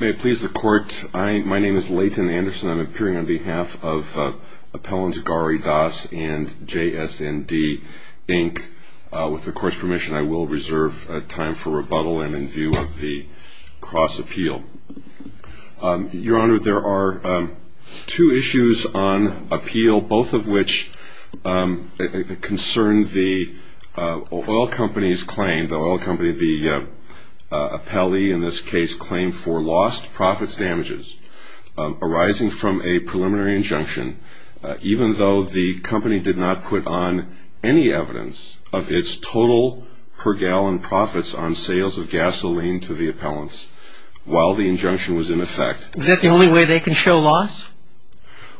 May it please the Court, my name is Leighton Anderson. I am appearing on behalf of Appellants Garry Dass and J.S.N.D, Inc. With the Court's permission, I will reserve time for rebuttal and in view of the cross-appeal. Your Honor, there are two issues on appeal, both of which concern the oil company's claim, the oil company, the appellee in this case, claim for lost profits damages arising from a preliminary injunction, even though the company did not put on any evidence of its total per gallon profits on sales of gasoline to the appellants while the injunction was in effect. Is that the only way they can show loss?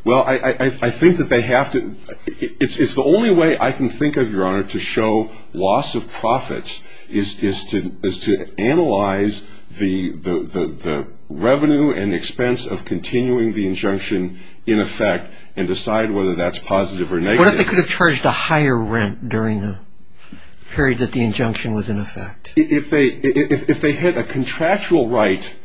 Well, I think that they have to, it's the only way I can think of, Your Honor, to show loss of profits is to analyze the revenue and expense of continuing the injunction in effect and decide whether that's positive or negative. What if they could have charged a higher rent during the period that the injunction was in effect? If they had a contractual right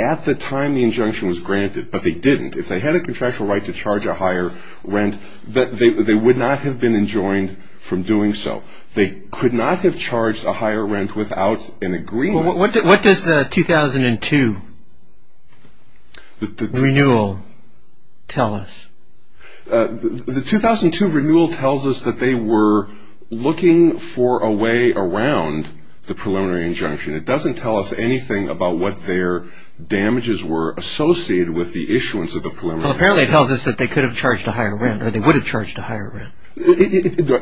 at the time the injunction was granted, but they didn't, if they had a contractual right to charge a higher rent, they would not have been enjoined from doing so. They could not have charged a higher rent without an agreement. What does the 2002 renewal tell us? The 2002 renewal tells us that they were looking for a way around the preliminary injunction. It doesn't tell us anything about what their damages were associated with the issuance of the preliminary injunction. It only tells us that they could have charged a higher rent, or they would have charged a higher rent.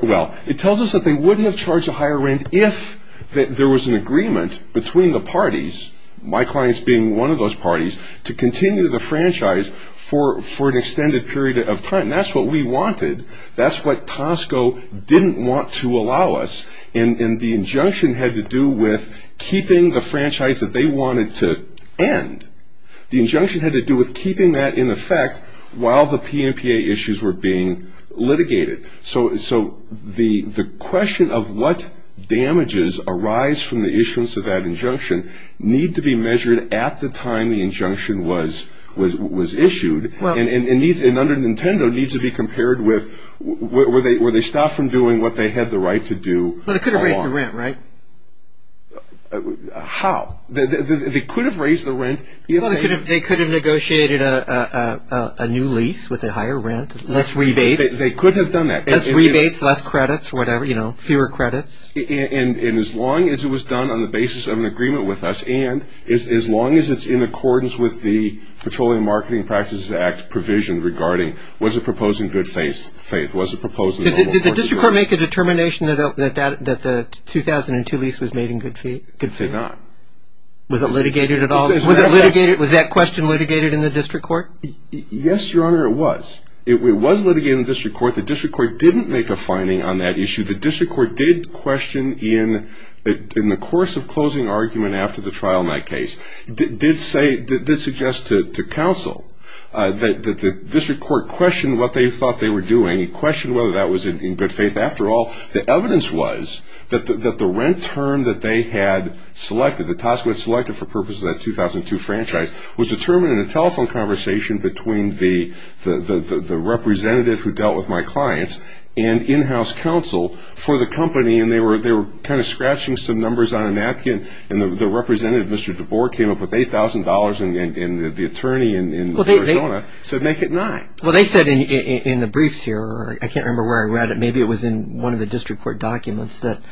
Well, it tells us that they wouldn't have charged a higher rent if there was an agreement between the parties, my clients being one of those parties, to continue the franchise for an extended period of time. That's what we wanted. That's what Tosco didn't want to allow us. And the injunction had to do with keeping the franchise that they wanted to end. The injunction had to do with keeping that in effect while the PNPA issues were being litigated. So the question of what damages arise from the issuance of that injunction need to be measured at the time the injunction was issued. And under Nintendo it needs to be compared with, were they stopped from doing what they had the right to do? They could have raised the rent. They could have negotiated a new lease with a higher rent, less rebates. They could have done that. Less rebates, less credits, fewer credits. And as long as it was done on the basis of an agreement with us, and as long as it's in accordance with the Petroleum Marketing Practices Act provision regarding, was it proposed in the normal course of action? Did the district court make a determination that the 2002 lease was made in good faith? It did not. Was it litigated at all? Was that question litigated in the district court? Yes, your honor, it was. It was litigated in the district court. The district court didn't make a finding on that issue. The district court did question in the course of closing argument after the trial night case, did suggest to counsel that the district court questioned what they thought they were doing. It questioned whether that was in good faith. After all, the evidence was that the rent term that they had selected, the task was selected for purposes of that 2002 franchise, was determined in a telephone conversation between the representative who dealt with my clients and in-house counsel for the company. And they were kind of scratching some numbers on a napkin. And the representative, Mr. DeBoer, came up with $8,000 and the attorney in Arizona said, make it nine. Well, they said in the briefs here, I can't remember where I read it, maybe it was in one of the district court documents, that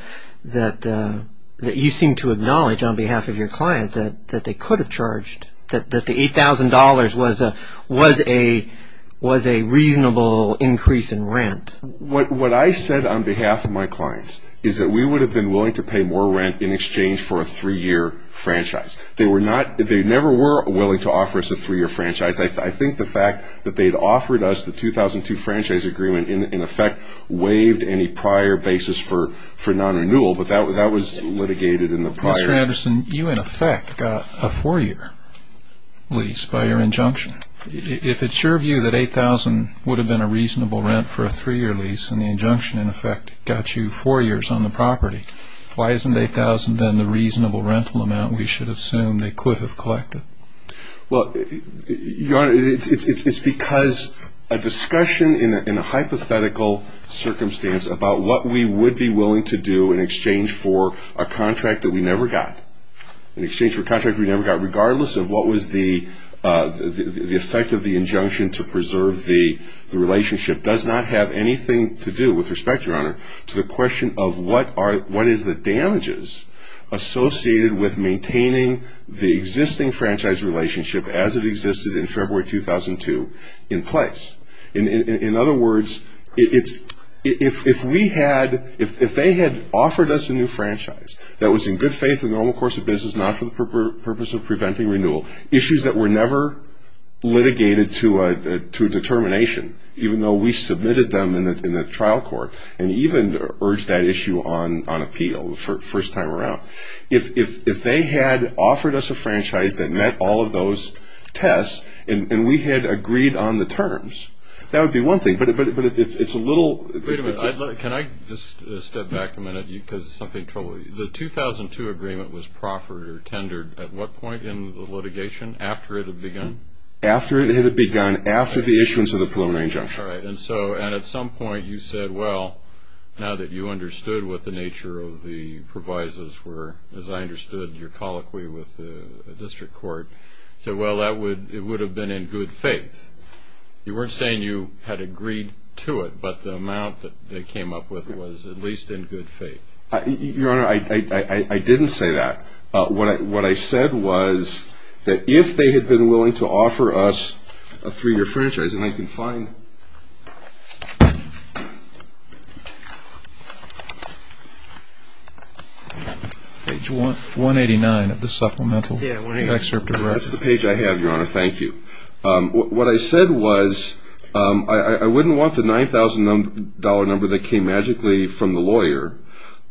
you seem to acknowledge on behalf of your client that they could have charged, that the $8,000 was a reasonable increase in rent. What I said on behalf of my clients is that we would have been willing to pay more rent in exchange for a three-year franchise. They were not, they never were willing to offer us a three-year franchise. I think the fact that they had offered us the 2002 franchise agreement in effect waived any prior basis for non-renewal, but that was litigated in the prior. Mr. Anderson, you in effect got a four-year lease by your injunction. If it's your view that $8,000 would have been a reasonable rent for a three-year lease and the injunction in effect got you four years on the property, why isn't $8,000 then the reasonable rental amount we should assume they could have collected? Well, it's because a discussion in a hypothetical circumstance about what we would be willing to do in exchange for a contract that we never got, in exchange for a contract we never got, regardless of what was the effect of the injunction to preserve the relationship, does not have anything to do, with respect, Your Honor, to the question of what is the damages associated with maintaining the existing franchise relationship as it existed in February 2002 in place. In other words, if we had, if they had offered us a new franchise that was in good faith in the normal course of business, not for the purpose of preventing renewal, issues that were never litigated to a determination, even though we submitted them in the trial court and even urged that issue on appeal the first time around, if they had offered us a franchise that met all of those tests and we had agreed on the terms, that would be one thing, but it's a little... Wait a minute. Can I just step back a minute because something troubled me? The 2002 agreement was proffered or tendered at what point in the litigation, after it had begun? After it had begun, after the issuance of the preliminary injunction. Right, and so, and at some point you said, well, now that you understood what the nature of the provisos were, as I understood your colloquy with the district court, so well that would, it would have been in good faith. You weren't saying you had agreed to it, but the amount that they came up with was at least in good faith. Your Honor, I didn't say that. What I said was that if they had been willing to offer us a three-year franchise, and I can find... Page 189 of the supplemental excerpt. That's the page I have, Your Honor, thank you. What I said was, I wouldn't want the $9,000 number that came magically from the lawyer...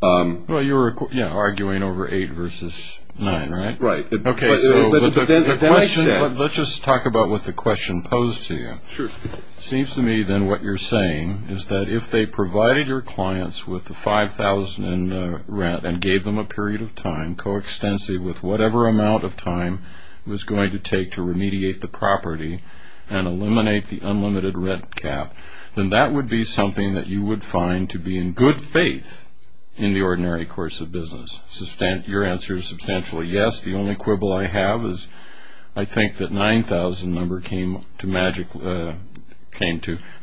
Well, you were arguing over eight versus nine, right? Right. Okay, so let's just talk about what the question posed to you. Sure. Seems to me then what you're saying is that if they provided your clients with the $5,000 in rent and gave them a period of time, coextensive with whatever amount of time it was going to take to remediate the property and eliminate the unlimited rent cap, then that would be something that you would find to be in good faith in the ordinary course of business. Your answer is substantially yes. The only quibble I have is I think that $9,000 number came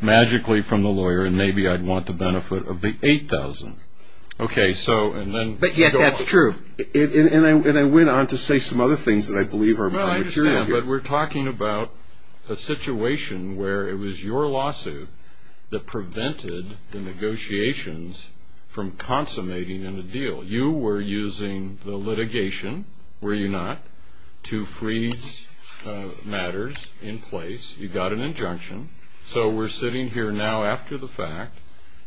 magically from the lawyer, and maybe I'd want the benefit of the $8,000. Okay, so... But yet that's true. And I went on to say some other things that I believe are my material here. Well, I understand, but we're talking about a situation where it was your lawsuit that prevented the negotiations from consummating in a deal. You were using the litigation, were you not, to freeze matters in place. You got an injunction, so we're sitting here now after the fact,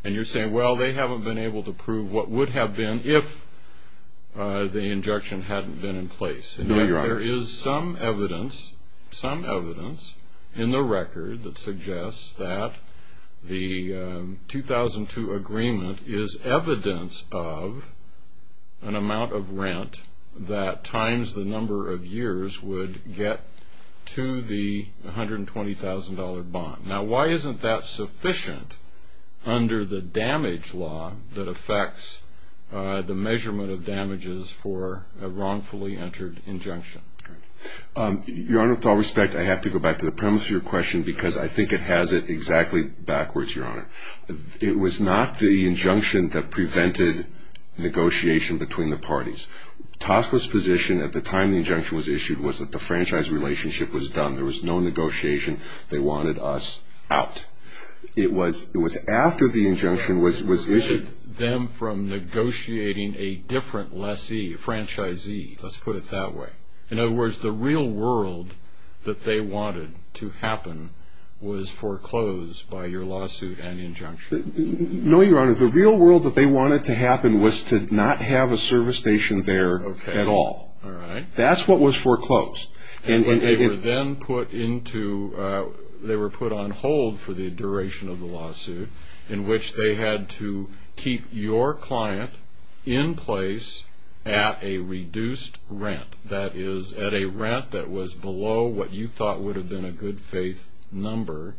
and you're saying, well, they haven't been able to prove what would have been if the injunction hadn't been in place. No, Your Honor. There is some evidence in the record that suggests that the 2002 agreement is evidence of an amount of rent that times the number of years would get to the $120,000 bond. Now, why isn't that sufficient under the damage law that affects the measurement of damages for a wrongfully entered injunction? Your Honor, with all respect, I have to go back to the premise of your question because I think it has it exactly backwards, Your Honor. It was not the injunction that prevented negotiation between the parties. TASPA's position at the time the injunction was issued was that the franchise relationship was done. There was no negotiation. They wanted us out. It was after the injunction was issued. You prevented them from negotiating a different lessee, franchisee, let's put it that way. In other words, the real world that they wanted to happen was foreclosed by your lawsuit and injunction. No, Your Honor. The real world that they wanted to happen was to not have a service station there at all. Okay. All right. That's what was foreclosed. They were then put on hold for the duration of the lawsuit in which they had to keep your client in place at a reduced rent. That is, at a rent that was below what you thought would have been a good faith number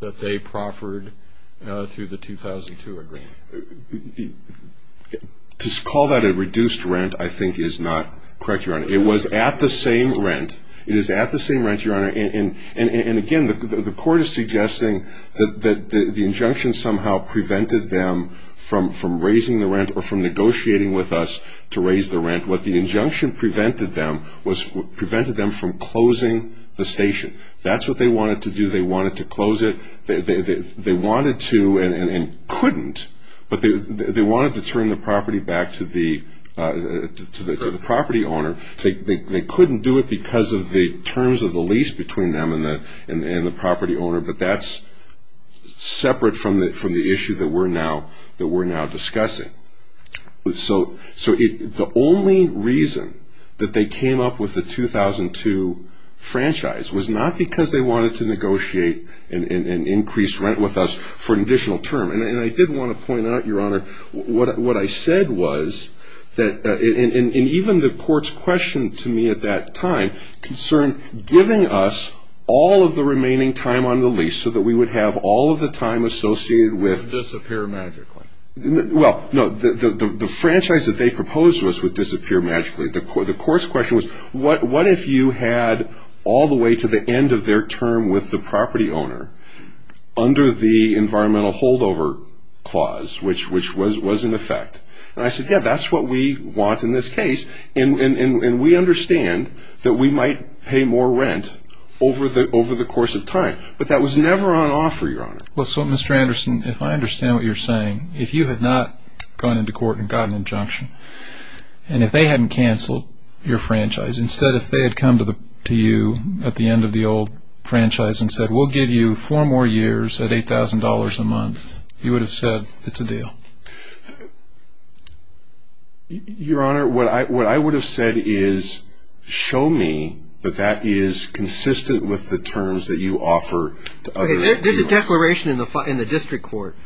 that they proffered through the 2002 agreement. To call that a reduced rent, I think, is not correct, Your Honor. It was at the same rent. It is at the same rent, Your Honor, and again, the court is suggesting that the injunction somehow prevented them from raising the rent or from negotiating with us to raise the rent. What the injunction prevented them was prevented them from closing the station. That's what they wanted to do. They wanted to close it. They wanted to and couldn't, but they wanted to turn the property back to the property owner. They couldn't do it because of the terms of the lease between them and the property owner, but that's separate from the issue that we're now discussing. The only reason that they came up with the 2002 franchise was not because they wanted to negotiate an increased rent with us for an additional term. I did want to point out, Your Honor, what I said was, and even the court's question to me at that time concerned giving us all of the remaining time on the lease so that we would have all of the time associated with Disappear magically. Well, no, the franchise that they proposed to us would disappear magically. The court's question was, what if you had all the way to the end of their term with the property owner under the environmental holdover clause, which was in effect? And I said, yeah, that's what we want in this case, and we understand that we might pay more rent over the course of time, but that was never on offer, Your Honor. Well, so, Mr. Anderson, if I understand what you're saying, if you had not gone into court and got an injunction, and if they hadn't canceled your franchise, instead if they had come to you at the end of the old franchise and said, we'll give you four more years at $8,000 a month, you would have said, it's a deal. Your Honor, what I would have said is, show me that that is consistent with the terms that you offer to other people. There's a declaration in the district court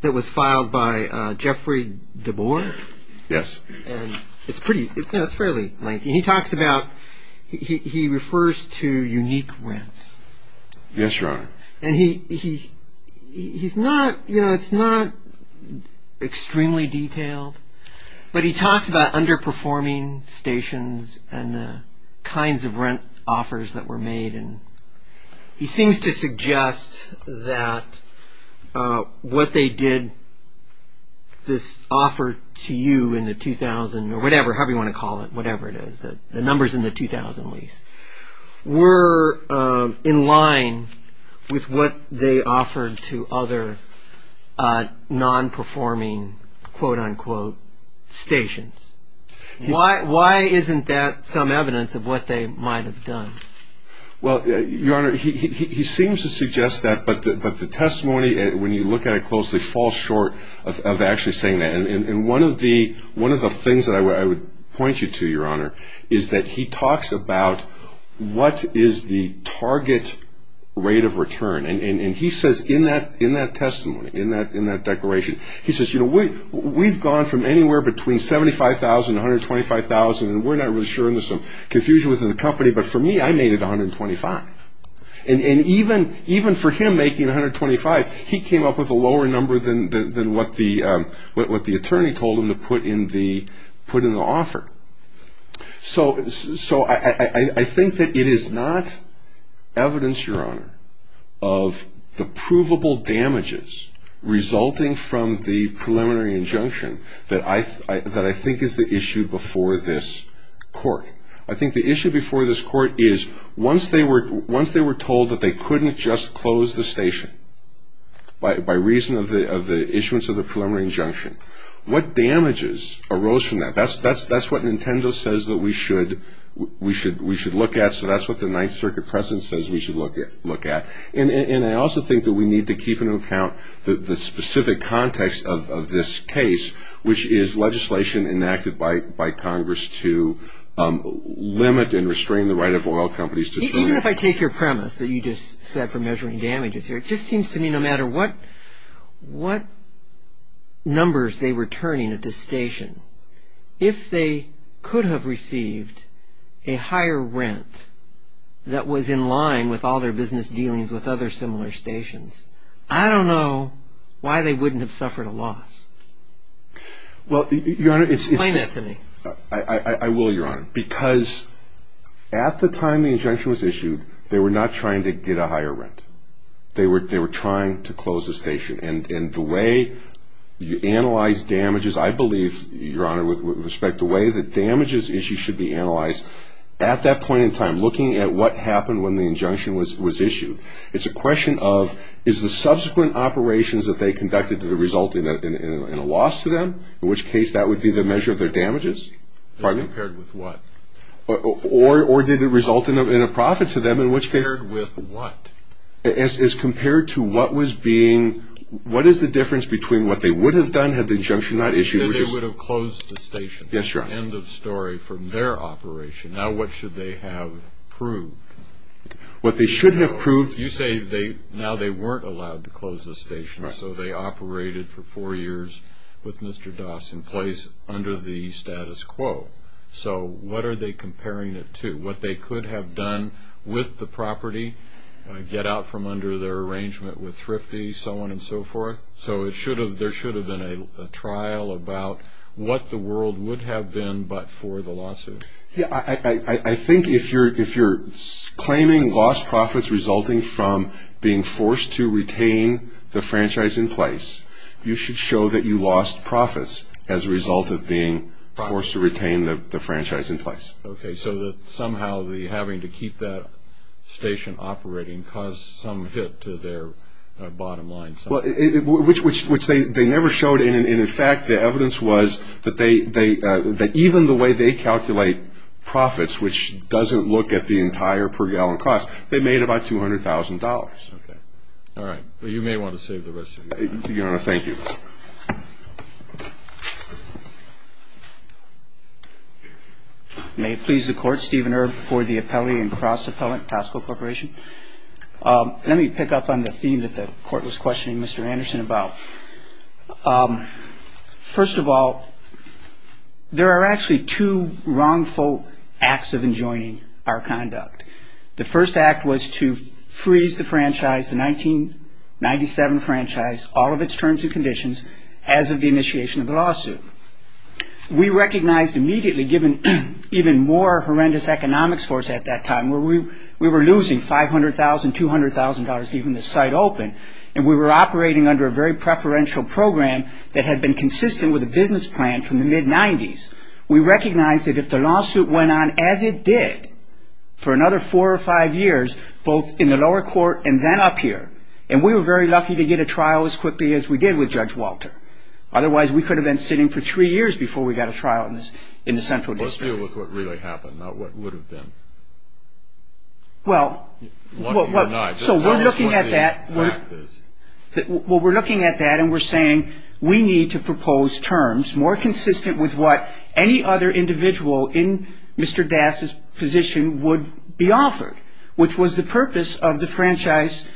that was filed by Jeffrey DeBoer. Yes. And it's pretty, it's fairly lengthy. He talks about, he refers to unique rents. Yes, Your Honor. And he, he's not, you know, it's not extremely detailed, but he talks about underperforming stations and the kinds of rent offers that were made, and he seems to suggest that what they did, this offer to you in the 2000, or whatever, however you want to call it, whatever it is, the numbers in the 2000 lease, were in line with what they offered to other non-performing quote-unquote stations. Why isn't that some evidence of what they might have done? Well, Your Honor, he seems to suggest that, but the testimony, when you look at it closely, falls short of actually saying that. And one of the things that I would point you to, Your Honor, is that he talks about what is the target rate of return. And he says in that we've gone from anywhere between $75,000 to $125,000, and we're not really sure, there's some confusion within the company, but for me, I made it $125,000. And even for him making $125,000, he came up with a lower number than what the attorney told him to put in the offer. So I think that it is not evidence, Your Honor, of the provable damages resulting from the injunction that I think is the issue before this court. I think the issue before this court is, once they were told that they couldn't just close the station by reason of the issuance of the preliminary injunction, what damages arose from that? That's what Nintendo says that we should look at, so that's what the Ninth Circuit precedent says we should look at. And I also think that we need to keep in account the specific context of this case which is legislation enacted by Congress to limit and restrain the right of oil companies to... Even if I take your premise that you just said for measuring damages here, it just seems to me no matter what numbers they were turning at this station, if they could have received a higher rent that was in line with all their business dealings with other similar stations, I don't know why they wouldn't have suffered a loss. Explain that to me. I will, Your Honor, because at the time the injunction was issued, they were not trying to get a higher rent. They were trying to close the station. And the way you analyze damages, I believe, Your Honor, with respect to the way the damages issue should be analyzed, at that point in time, looking at what happened when the injunction was issued, it's a question of is the subsequent operations that they conducted that resulted in a loss to them, in which case that would be the measure of their damages. Compared with what? Or did it result in a profit to them, in which case... Compared with what? As compared to what was being... What is the difference between what they would have done had the injunction not issued... That they would have closed the station. Yes, Your Honor. End of story from their operation. Now what should they have proved? What they should have proved... You say now they weren't allowed to close the station, so they operated for four years with Mr. Doss in place under the status quo. So what are they comparing it to? What they could have done with the property, get out from under their arrangement with Thrifty, so on and so forth. So there should have been a trial about what the world would have been but for the lawsuit. I think if you're claiming lost profits resulting from being forced to retain the franchise in place, you should show that you lost profits as a result of being forced to retain the franchise in place. Okay, so somehow having to keep that station operating caused some hit to their bottom line... Well, which they never showed. And in fact, the evidence was that even the way they calculate profits, which doesn't look at the entire per gallon cost, they made about $200,000. Okay. All right. Well, you may want to save the rest of your time. Your Honor, thank you. May it please the Court, Steven Erb for the appellee and cross-appellant, Tosco Corporation. Let me pick up on the theme that the Court was questioning Mr. Anderson about. First of all, there are actually two wrongful acts of enjoining our conduct. The first act was to freeze the franchise, the 1997 franchise, all of its terms and conditions as of the initiation of the lawsuit. We recognized immediately, given even more horrendous economics force at that time, where we were losing $500,000, $200,000, even the site open, and we were operating under a very preferential program that had been consistent with the business plan from the mid-'90s. We recognized that if the lawsuit went on as it did for another four or five years, both in the lower court and then up here, and we were very lucky to get a trial as quickly as we did with Judge Walter. Otherwise, we could have been sitting for three years before we got a trial in the Central District. Well, let's deal with what really happened, not what would have been. Well, we're looking at that and we're saying we need to propose terms more consistent with what any other individual in Mr. Das' position would be offered, which was the purpose of the franchise,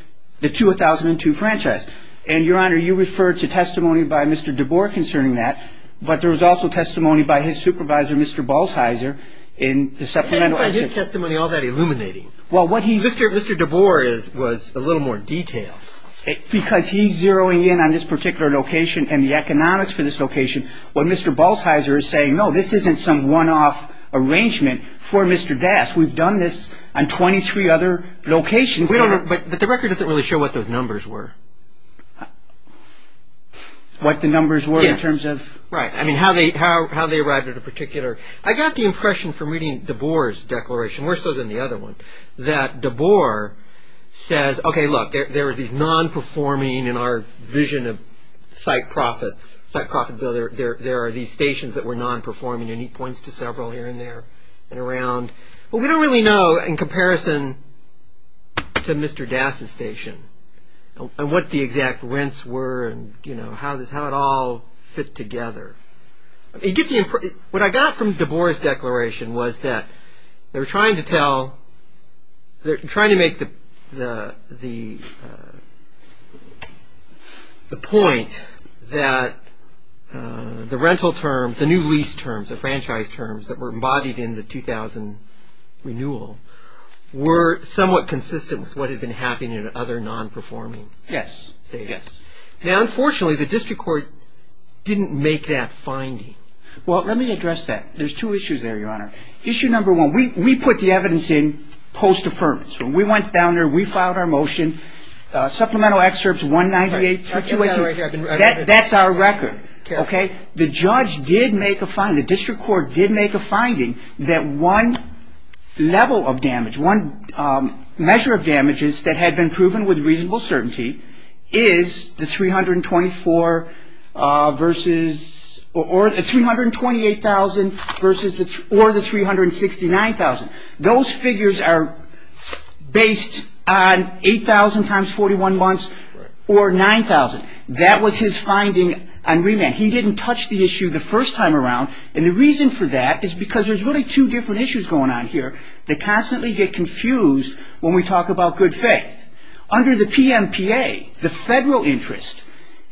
the 2002 franchise. And, Your Honor, you referred to testimony by Mr. DeBoer concerning that, but there was also testimony by his supervisor, Mr. Balsheiser, in the How do you find his testimony all that illuminating? Mr. DeBoer was a little more detailed. Because he's zeroing in on this particular location and the economics for this location, when Mr. Balsheiser is saying, no, this isn't some one-off arrangement for Mr. Das. We've done this on 23 other locations. But the record doesn't really show what those numbers were. What the numbers were in terms of... Yes. Right. I mean, how they arrived at a particular... I got the impression from reading DeBoer's declaration, worse so than the other one, that DeBoer says, okay, look, there are these non-performing, in our vision of site profits, site profit bill, there are these stations that were non-performing. And he points to several here and there and around. Well, we don't really know, in comparison to Mr. Das' station, what the exact rents were and how it all fit together. What I got from DeBoer's declaration was that they were trying to make the point that the rental terms, the new lease terms, the franchise terms that were embodied in the 2000 renewal, were somewhat consistent with what had been happening in other non-performing states. Yes. Now, unfortunately, the district court didn't make that finding. Well, let me address that. There's two issues there, Your Honor. Issue number one, we put the evidence in post-affirmance. When we went down there, we filed our motion. Supplemental excerpts 198... I've got it right here. That's our record, okay? The judge did make a finding, the district court did make a finding that one level of damage, one measure of damages that had been proven with reasonable certainty is the $328,000 or the $369,000. Those figures are based on 8,000 times 41 months or 9,000. That was his finding on remand. He didn't touch the issue the first time around, and the reason for that is because there's really two different issues going on here that constantly get confused when we talk about good faith. Under the PMPA, the federal interest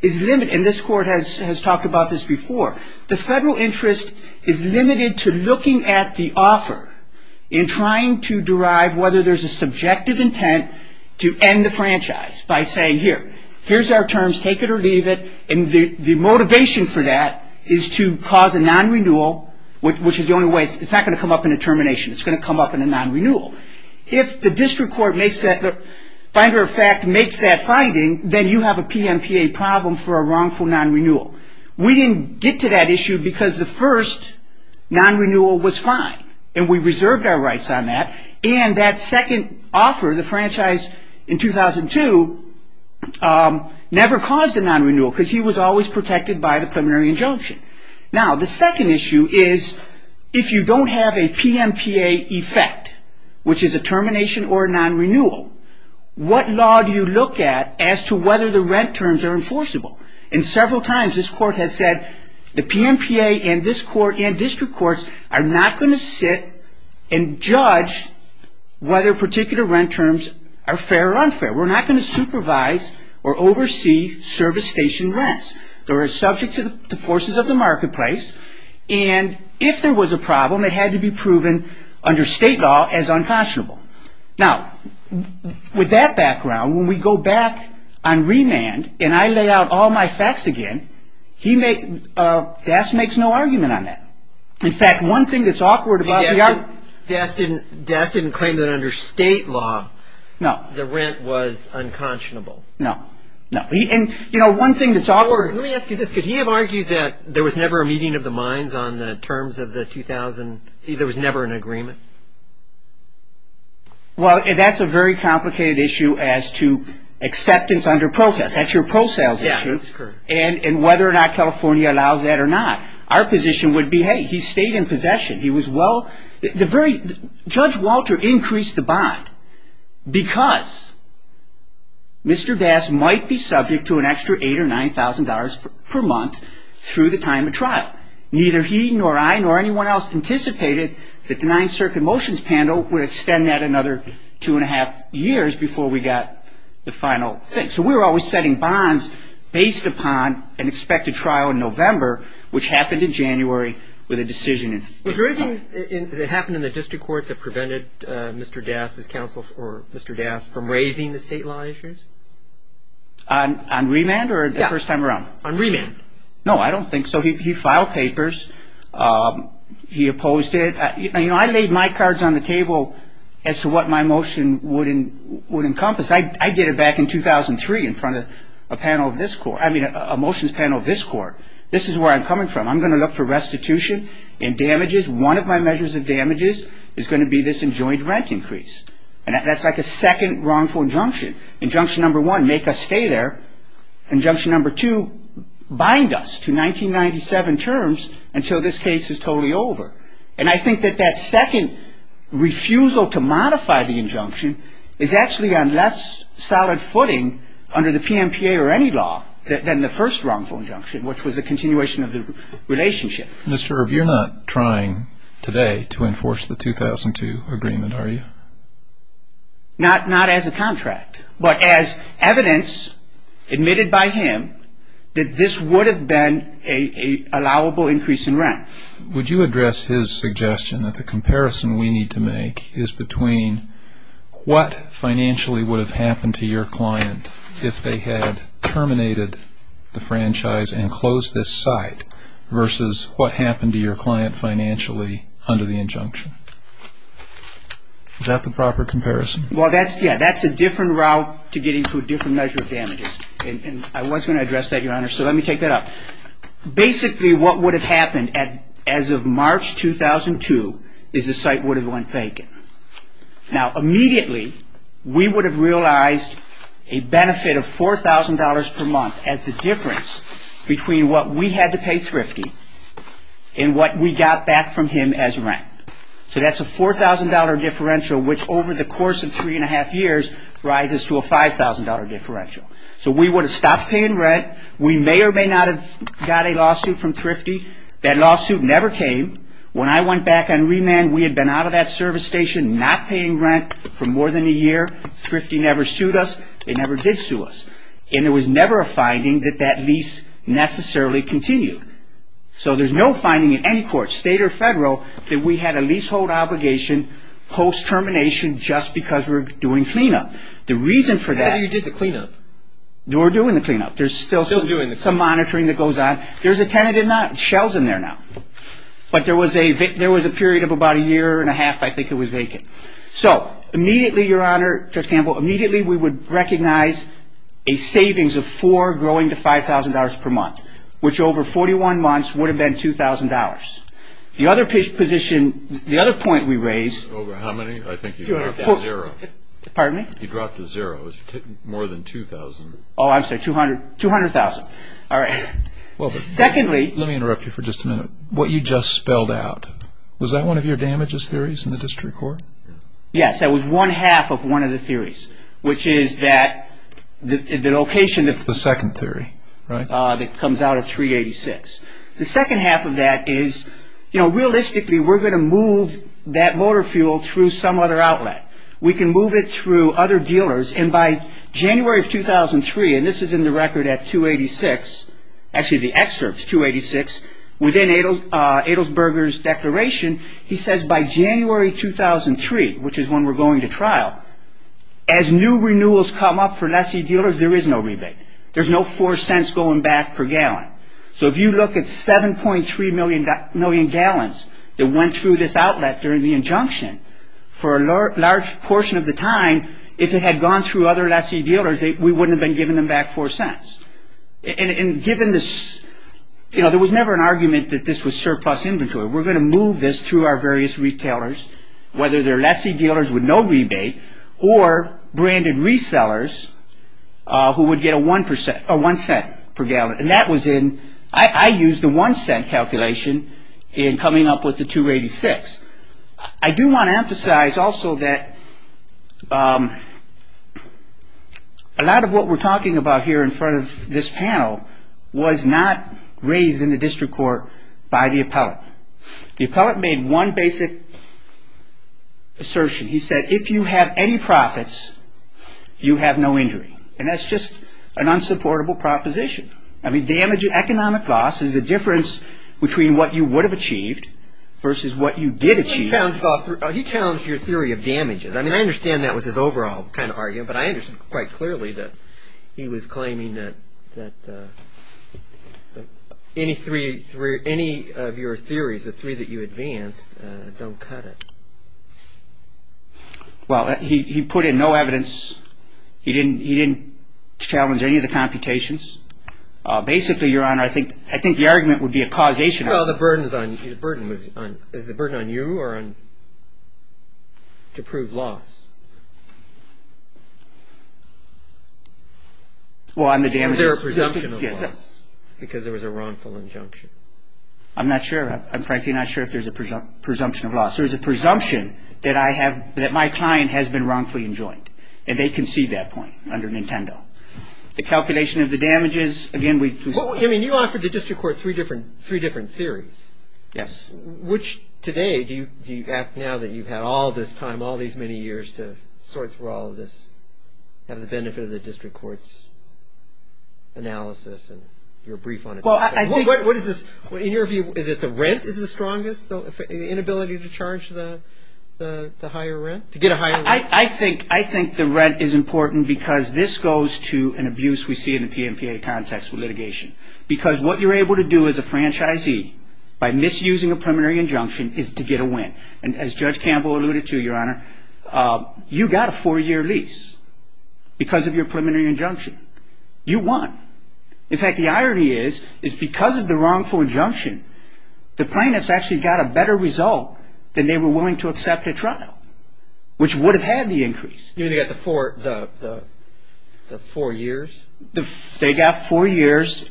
is limited, and this court has talked about this before, the federal interest is limited to looking at the offer and trying to derive whether there's a subjective intent to end the franchise by saying, here, here's our terms, take it or leave it. The motivation for that is to cause a non-renewal, which is the only way... It's not going to come up in a termination. It's going to come up in a non-renewal. If the district court makes that... Finder of fact makes that finding, then you have a PMPA problem for a wrongful non-renewal. We didn't get to that issue because the first non-renewal was fine, and we reserved our rights on that. That second offer, the franchise in 2002, never caused a non-renewal because he was always protected by the preliminary injunction. The second issue is if you don't have a PMPA effect, which is a termination or a non-renewal, what law do you look at as to whether the rent terms are enforceable? Several times this court has said, the PMPA and this court and district courts are not going to sit and judge whether particular rent terms are fair or unfair. We're not going to supervise or oversee service station rents. They're subject to the forces of the marketplace. If there was a problem, it had to be proven under state law as unconscionable. Now, with that background, when we go back on remand and I lay out all my facts again, he makes, Das makes no argument on that. In fact, one thing that's awkward about the argument... But Das didn't, Das didn't claim that under state law, the rent was unconscionable. No. No. He, and, you know, one thing that's awkward... Let me ask you this. Could he have argued that there was never a meeting of the minds on the terms of the 2000, there was never an agreement? Well, that's a very complicated issue as to acceptance under protest. That's your pro-sales issue. And whether or not California allows that or not. Our position would be, hey, he stayed in possession. He was well, the very, Judge Walter increased the bond because Mr. Das might be subject to an extra $8,000 or $9,000 per month through the time of trial. Neither he nor I nor anyone else anticipated that the Ninth Circuit Motions Panel would extend that another two and a half years before we got the final thing. So we were always setting bonds based upon an expected trial in November, which happened in January with a decision in... Was there anything that happened in the district court that prevented Mr. Das' counsel, or Mr. Das, from raising the state law issues? On remand or the first time around? On remand. No, I don't think so. He filed papers. He opposed it. I laid my cards on the table as to what my motion would encompass. I did it back in 2003 in front of a motions panel of this court. This is where I'm coming from. I'm going to look for restitution and damages. One of my measures of damages is going to be this enjoined rent increase. And that's like a second wrongful injunction. Injunction number one, make us stay there. Injunction number two, bind us to 1997 terms until this case is totally over. And I think that that second refusal to modify the injunction is actually on less solid footing under the PMPA or any law than the first wrongful injunction, which was a continuation of the relationship. Mr. Earp, you're not trying today to enforce the 2002 agreement, are you? No. Not as a contract, but as evidence admitted by him that this would have been an allowable increase in rent. Would you address his suggestion that the comparison we need to make is between what financially would have happened to your client if they had terminated the franchise and closed this site versus what happened to your client financially under the injunction? Is that the proper comparison? Well, yeah. That's a different route to getting to a different measure of damages. And I was going to address that, Your Honor. So let me take that up. Basically, what would have happened as of March 2002 is the site would have went vacant. Now, immediately, we would have realized a benefit of $4,000 per month as the difference between what we had to pay Thrifty and what we got back from him as rent. So that's a $4,000 differential, which over the course of three and a half years rises to a $5,000 differential. So we would have stopped paying rent. We may or may not have got a lawsuit from Thrifty. That lawsuit never came. When I went back on remand, we had been out of that service station not paying rent for more than a year. Thrifty never sued us. They never did sue us. And there was never a finding that that lease necessarily continued. So there's no finding in any court, state or federal, that we had a leasehold obligation post-termination just because we were doing cleanup. The reason for that... How do you do the cleanup? We're doing the cleanup. There's still some monitoring that goes on. There's a tenant in that. Shell's in there now. But there was a period of about a year and a half, I think, it was vacant. So immediately, Your Honor, Judge Campbell, immediately, we would recognize a savings of four growing to $5,000 per month, which over 41 months would have been $2,000. The other position, the other point we raised... Over how many? I think you dropped to zero. Pardon me? You dropped to zero. It was more than $2,000. Oh, I'm sorry, $200,000. All right. Secondly... Let me interrupt you for just a minute. What you just spelled out, was that one of your damages theories in the district court? Yes. That was one half of one of the theories, which is that the location... It's the second theory, right? That comes out of 386. The second half of that is, realistically, we're going to move that motor fuel through some other outlet. We can move it through other dealers. And by January of 2003, and this is in the record at 286, actually the excerpt's 286, within Adelsberger's declaration, he says, by January 2003, which is when we're going to trial, as new renewals come up for lessee dealers, there is no rebate. There's no four cents going back per gallon. So if you look at 7.3 million gallons that went through this outlet during the injunction, for a large portion of the time, if it had gone through other lessee dealers, we wouldn't have been giving them back four cents. And given this, you know, there was never an argument that this was surplus inventory. We're going to move this through our various retailers, whether they're lessee dealers with no rebate, or branded resellers who would get a one cent per gallon. And that was in... I used the one cent calculation in coming up with the 286. I do want to emphasize also that a lot of what we're talking about here in front of this panel was not raised in the district court by the appellate. The appellate made one basic assertion. He said, if you have any profits, you have no injury. And that's just an unsupportable proposition. I mean, damage, economic loss, is the difference between what you would have achieved versus what you did achieve. He challenged your theory of damages. I mean, I understand that was his overall kind of argument, that any of your theories, the three that you advanced, don't cut it. Well, he put in no evidence. He didn't challenge any of the computations. Basically, Your Honor, I think the argument would be a causation argument. Well, the burden is on you, or on... to prove loss. Well, on the damages... Is there a presumption of loss? Because there was a wrongful injunction. I'm not sure. I'm frankly not sure if there's a presumption of loss. There's a presumption that I have... that my client has been wrongfully enjoined. And they concede that point under Nintendo. The calculation of the damages, again, we... Well, I mean, you offered the district court three different theories. Yes. Which, today, do you... now that you've had all this time, all these many years to sort through all of this, have the benefit of the district court's analysis and your brief on it... Well, I think... What is this? In your view, is it the rent is the strongest? The inability to charge the higher rent? To get a higher... I think the rent is important because this goes to an abuse we see in the PMPA context with litigation. Because what you're able to do as a franchisee by misusing a preliminary injunction is to get a win. And as Judge Campbell alluded to, Your Honor, you got a four-year lease because of your preliminary injunction. You won. In fact, the irony is, is because of the wrongful injunction, the plaintiffs actually got a better result than they were willing to accept at trial, which would have had the increase. You mean they got the four... the four years? They got four years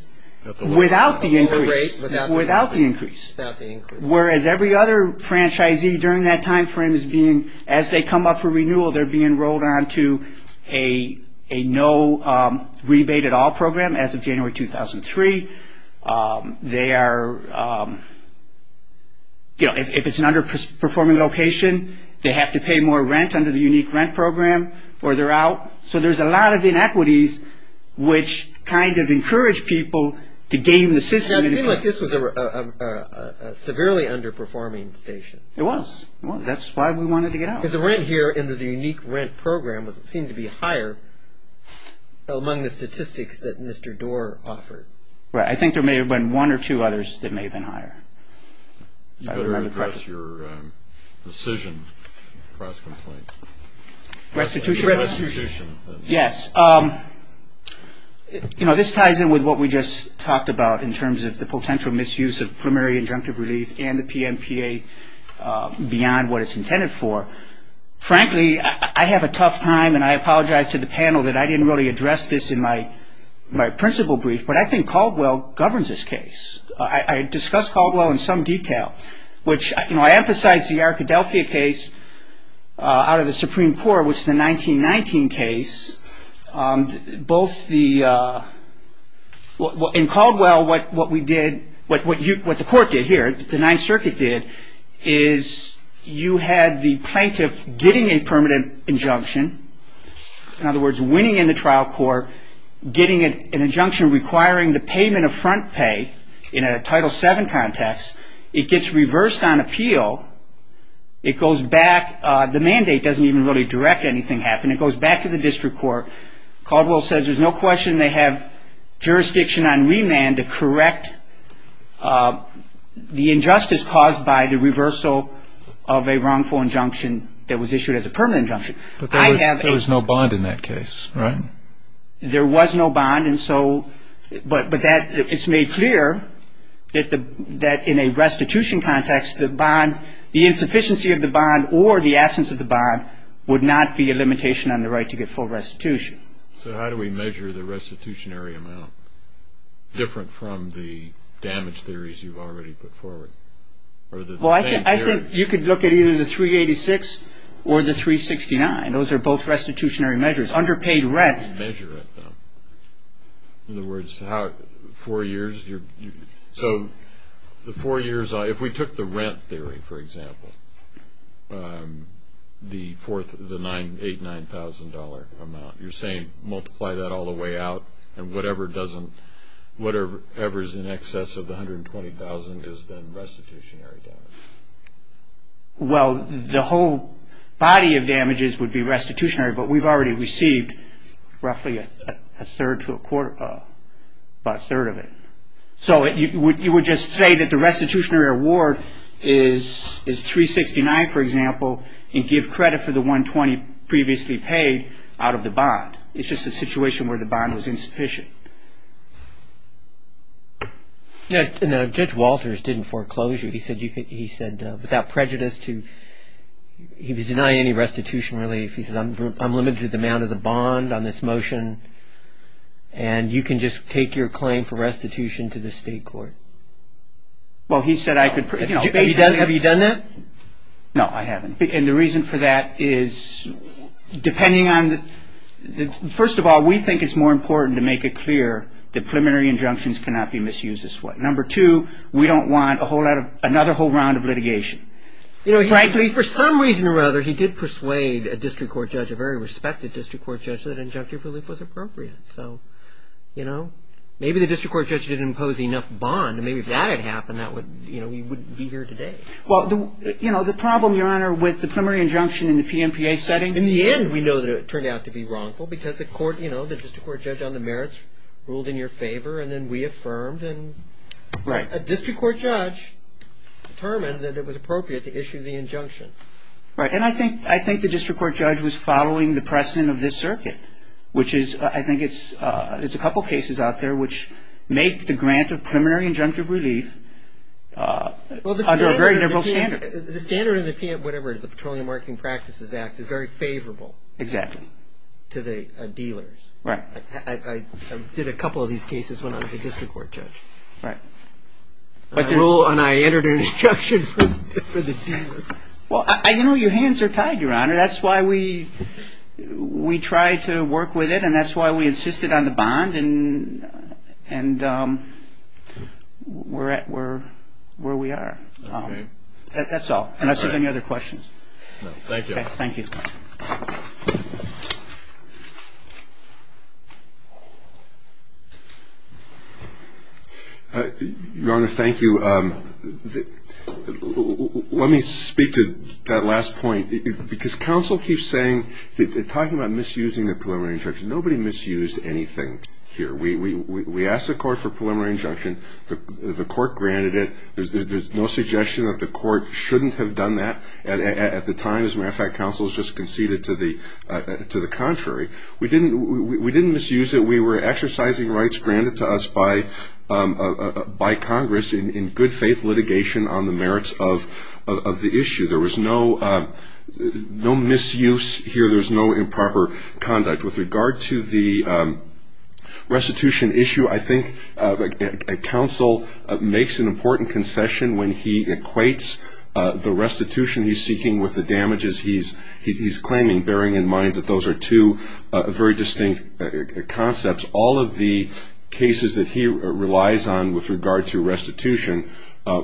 without the increase. At the lower rate, without the increase? Without the increase. Without the increase. Whereas every other franchisee during that time frame is being, as they come up for renewal, they're being rolled onto a no-rebate-at-all program as of January 2003. They are... if it's an underperforming location, they have to pay more rent under the unique rent program or they're out. So there's a lot of inequities which kind of encourage people to game the system... Now it seemed like this was a severely underperforming station. It was. It was. That's why we wanted to get out. Because the rent here in the unique rent program seemed to be higher among the statistics that Mr. Doar offered. Right. I think there may have been one or two others that may have been higher. You better address your decision, press complaint. Restitution? Restitution. Yes. You know, this ties in with what we just talked about in terms of the potential misuse of primary injunctive relief and the PMPA beyond what it's intended for. Frankly, I have a tough time and I apologize to the panel that I didn't really address this in my principal brief, but I think Caldwell governs this case. I discussed Caldwell in some detail, which I emphasize the Arkadelphia case out of the Supreme Court, which is a 1919 case. In Caldwell what the court did here, the Ninth Circuit did, is you had the plaintiff getting a permanent injunction. In other words, winning in the trial court, getting an injunction requiring the payment of front pay in a Title VII context, it gets reversed on appeal. It goes back, the mandate doesn't even really direct anything happening. It goes back to the district court. Caldwell says there's no question they have jurisdiction on remand to correct the injustice caused by the reversal of a wrongful injunction that was issued as a permanent injunction. But there was no bond in that case, right? There was no bond, but it's made clear that in a restitution context, the insufficiency of the bond or the absence of the bond would not be a limitation on the right to get full restitution. So how do we measure the restitutionary amount, different from the damage theories you've already put forward? I think you could look at either the 386 or the 369. Those are both restitutionary measures. Underpaid rent. How do you measure it, though? In other words, four years? So the four years, if we took the rent theory, for example, the $8,000, $9,000 amount, you're saying multiply that all the way out, and whatever is in excess of the $120,000 is then restitutionary damage. Well, the whole body of damages would be restitutionary, but we've already received roughly a third to a quarter, about a third of it. So you would just say that the restitutionary award is 369, for example, and give credit for the $120,000 previously paid out of the bond. It's just a situation where the bond was insufficient. Judge Walters didn't foreclose you. He said, without prejudice, he was denying any restitution relief. He said, I'm limited to the amount of the bond on this motion, and you can just take your claim for restitution to the state court. Well, he said I could basically – Have you done that? No, I haven't. And the reason for that is, depending on – first of all, we think it's more important to make it clear that preliminary injunctions cannot be misused this way. Number two, we don't want another whole round of litigation. Frankly, for some reason or other, he did persuade a district court judge, a very respected district court judge, that injunctive relief was appropriate. So maybe the district court judge didn't impose enough bond, and maybe if that had happened, we wouldn't be here today. Well, the problem, Your Honor, with the preliminary injunction in the PMPA setting – you know, the district court judge on the merits ruled in your favor, and then we affirmed, and a district court judge determined that it was appropriate to issue the injunction. Right. And I think the district court judge was following the precedent of this circuit, which is – I think it's a couple cases out there which make the grant of preliminary injunctive relief under a very liberal standard. The standard in the Petroleum Marketing Practices Act is very favorable. Exactly. To the dealers. Right. I did a couple of these cases when I was a district court judge. Right. And I entered an injunction for the dealer. Well, you know, your hands are tied, Your Honor. That's why we tried to work with it, and that's why we insisted on the bond, and we're where we are. Okay. That's all. All right. Unless you have any other questions. No. Thank you. Okay. Thank you. Your Honor, thank you. Let me speak to that last point, because counsel keeps saying – talking about misusing the preliminary injunction. Nobody misused anything here. We asked the court for preliminary injunction. The court granted it. There's no suggestion that the court shouldn't have done that at the time, as a matter of fact, counsel has just conceded to the contrary. We didn't misuse it. We were exercising rights granted to us by Congress in good-faith litigation on the merits of the issue. There was no misuse here. There was no improper conduct. With regard to the restitution issue, I think counsel makes an important concession when he equates the restitution he's seeking with the damages he's claiming, bearing in mind that those are two very distinct concepts. All of the cases that he relies on with regard to restitution are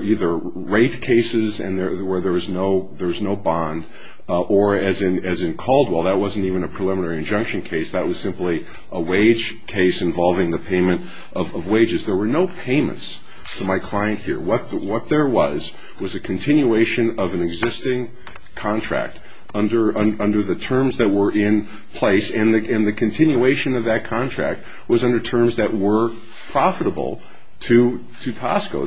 either rape cases where there is no bond, or, as in Caldwell, that wasn't even a preliminary injunction case. That was simply a wage case involving the payment of wages. There were no payments to my client here. What there was was a continuation of an existing contract under the terms that were in place, and the continuation of that contract was under terms that were profitable to Tosco.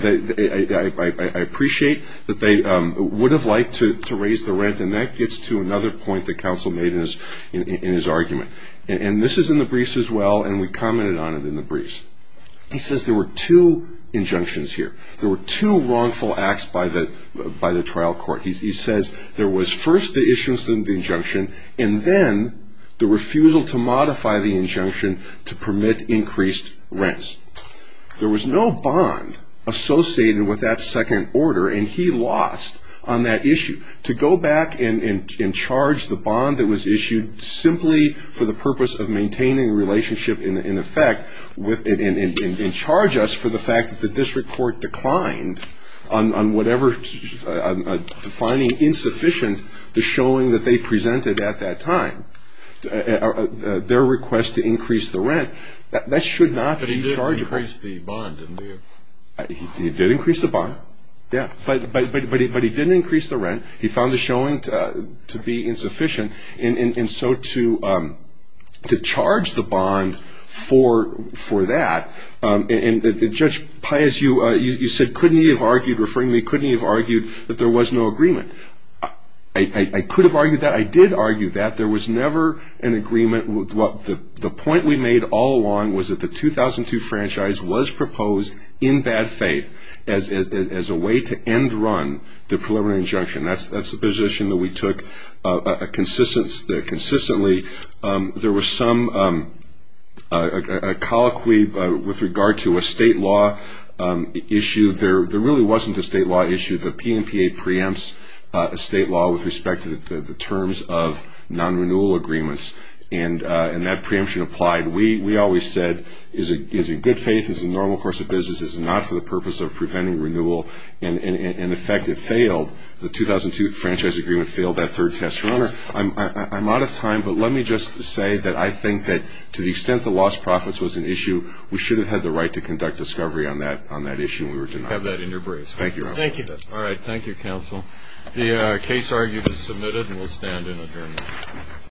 I appreciate that they would have liked to raise the rent, and that gets to another point that counsel made in his argument. And this is in the briefs as well, and we commented on it in the briefs. He says there were two injunctions here. There were two wrongful acts by the trial court. He says there was first the issuance of the injunction, and then the refusal to modify the injunction to permit increased rents. There was no bond associated with that second order, and he lost on that issue. To go back and charge the bond that was issued simply for the purpose of maintaining a relationship in effect and charge us for the fact that the district court declined on whatever defining insufficient to showing that they presented at that time their request to increase the rent, that should not be chargeable. But he did increase the bond, didn't he? He did increase the bond, yeah. But he didn't increase the rent. He found the showing to be insufficient, and so to charge the bond for that, and Judge Paez, you said, couldn't he have argued, referring to me, couldn't he have argued that there was no agreement? I could have argued that. I did argue that. There was never an agreement. The point we made all along was that the 2002 franchise was proposed in bad faith as a way to end run the preliminary injunction. That's a position that we took consistently. There was some colloquy with regard to a state law issue. There really wasn't a state law issue. The PNPA preempts a state law with respect to the terms of non-renewal agreements, and that preemption applied. We always said, is it good faith, is it a normal course of business, is it not for the purpose of preventing renewal, and, in effect, it failed. The 2002 franchise agreement failed that third test. Your Honor, I'm out of time, but let me just say that I think that to the extent that lost profits was an issue, we should have had the right to conduct discovery on that issue when we were denied. I have that in your briefs. Thank you, Your Honor. Thank you. All right. Thank you, counsel. The case argued is submitted, and we'll stand in adjournment.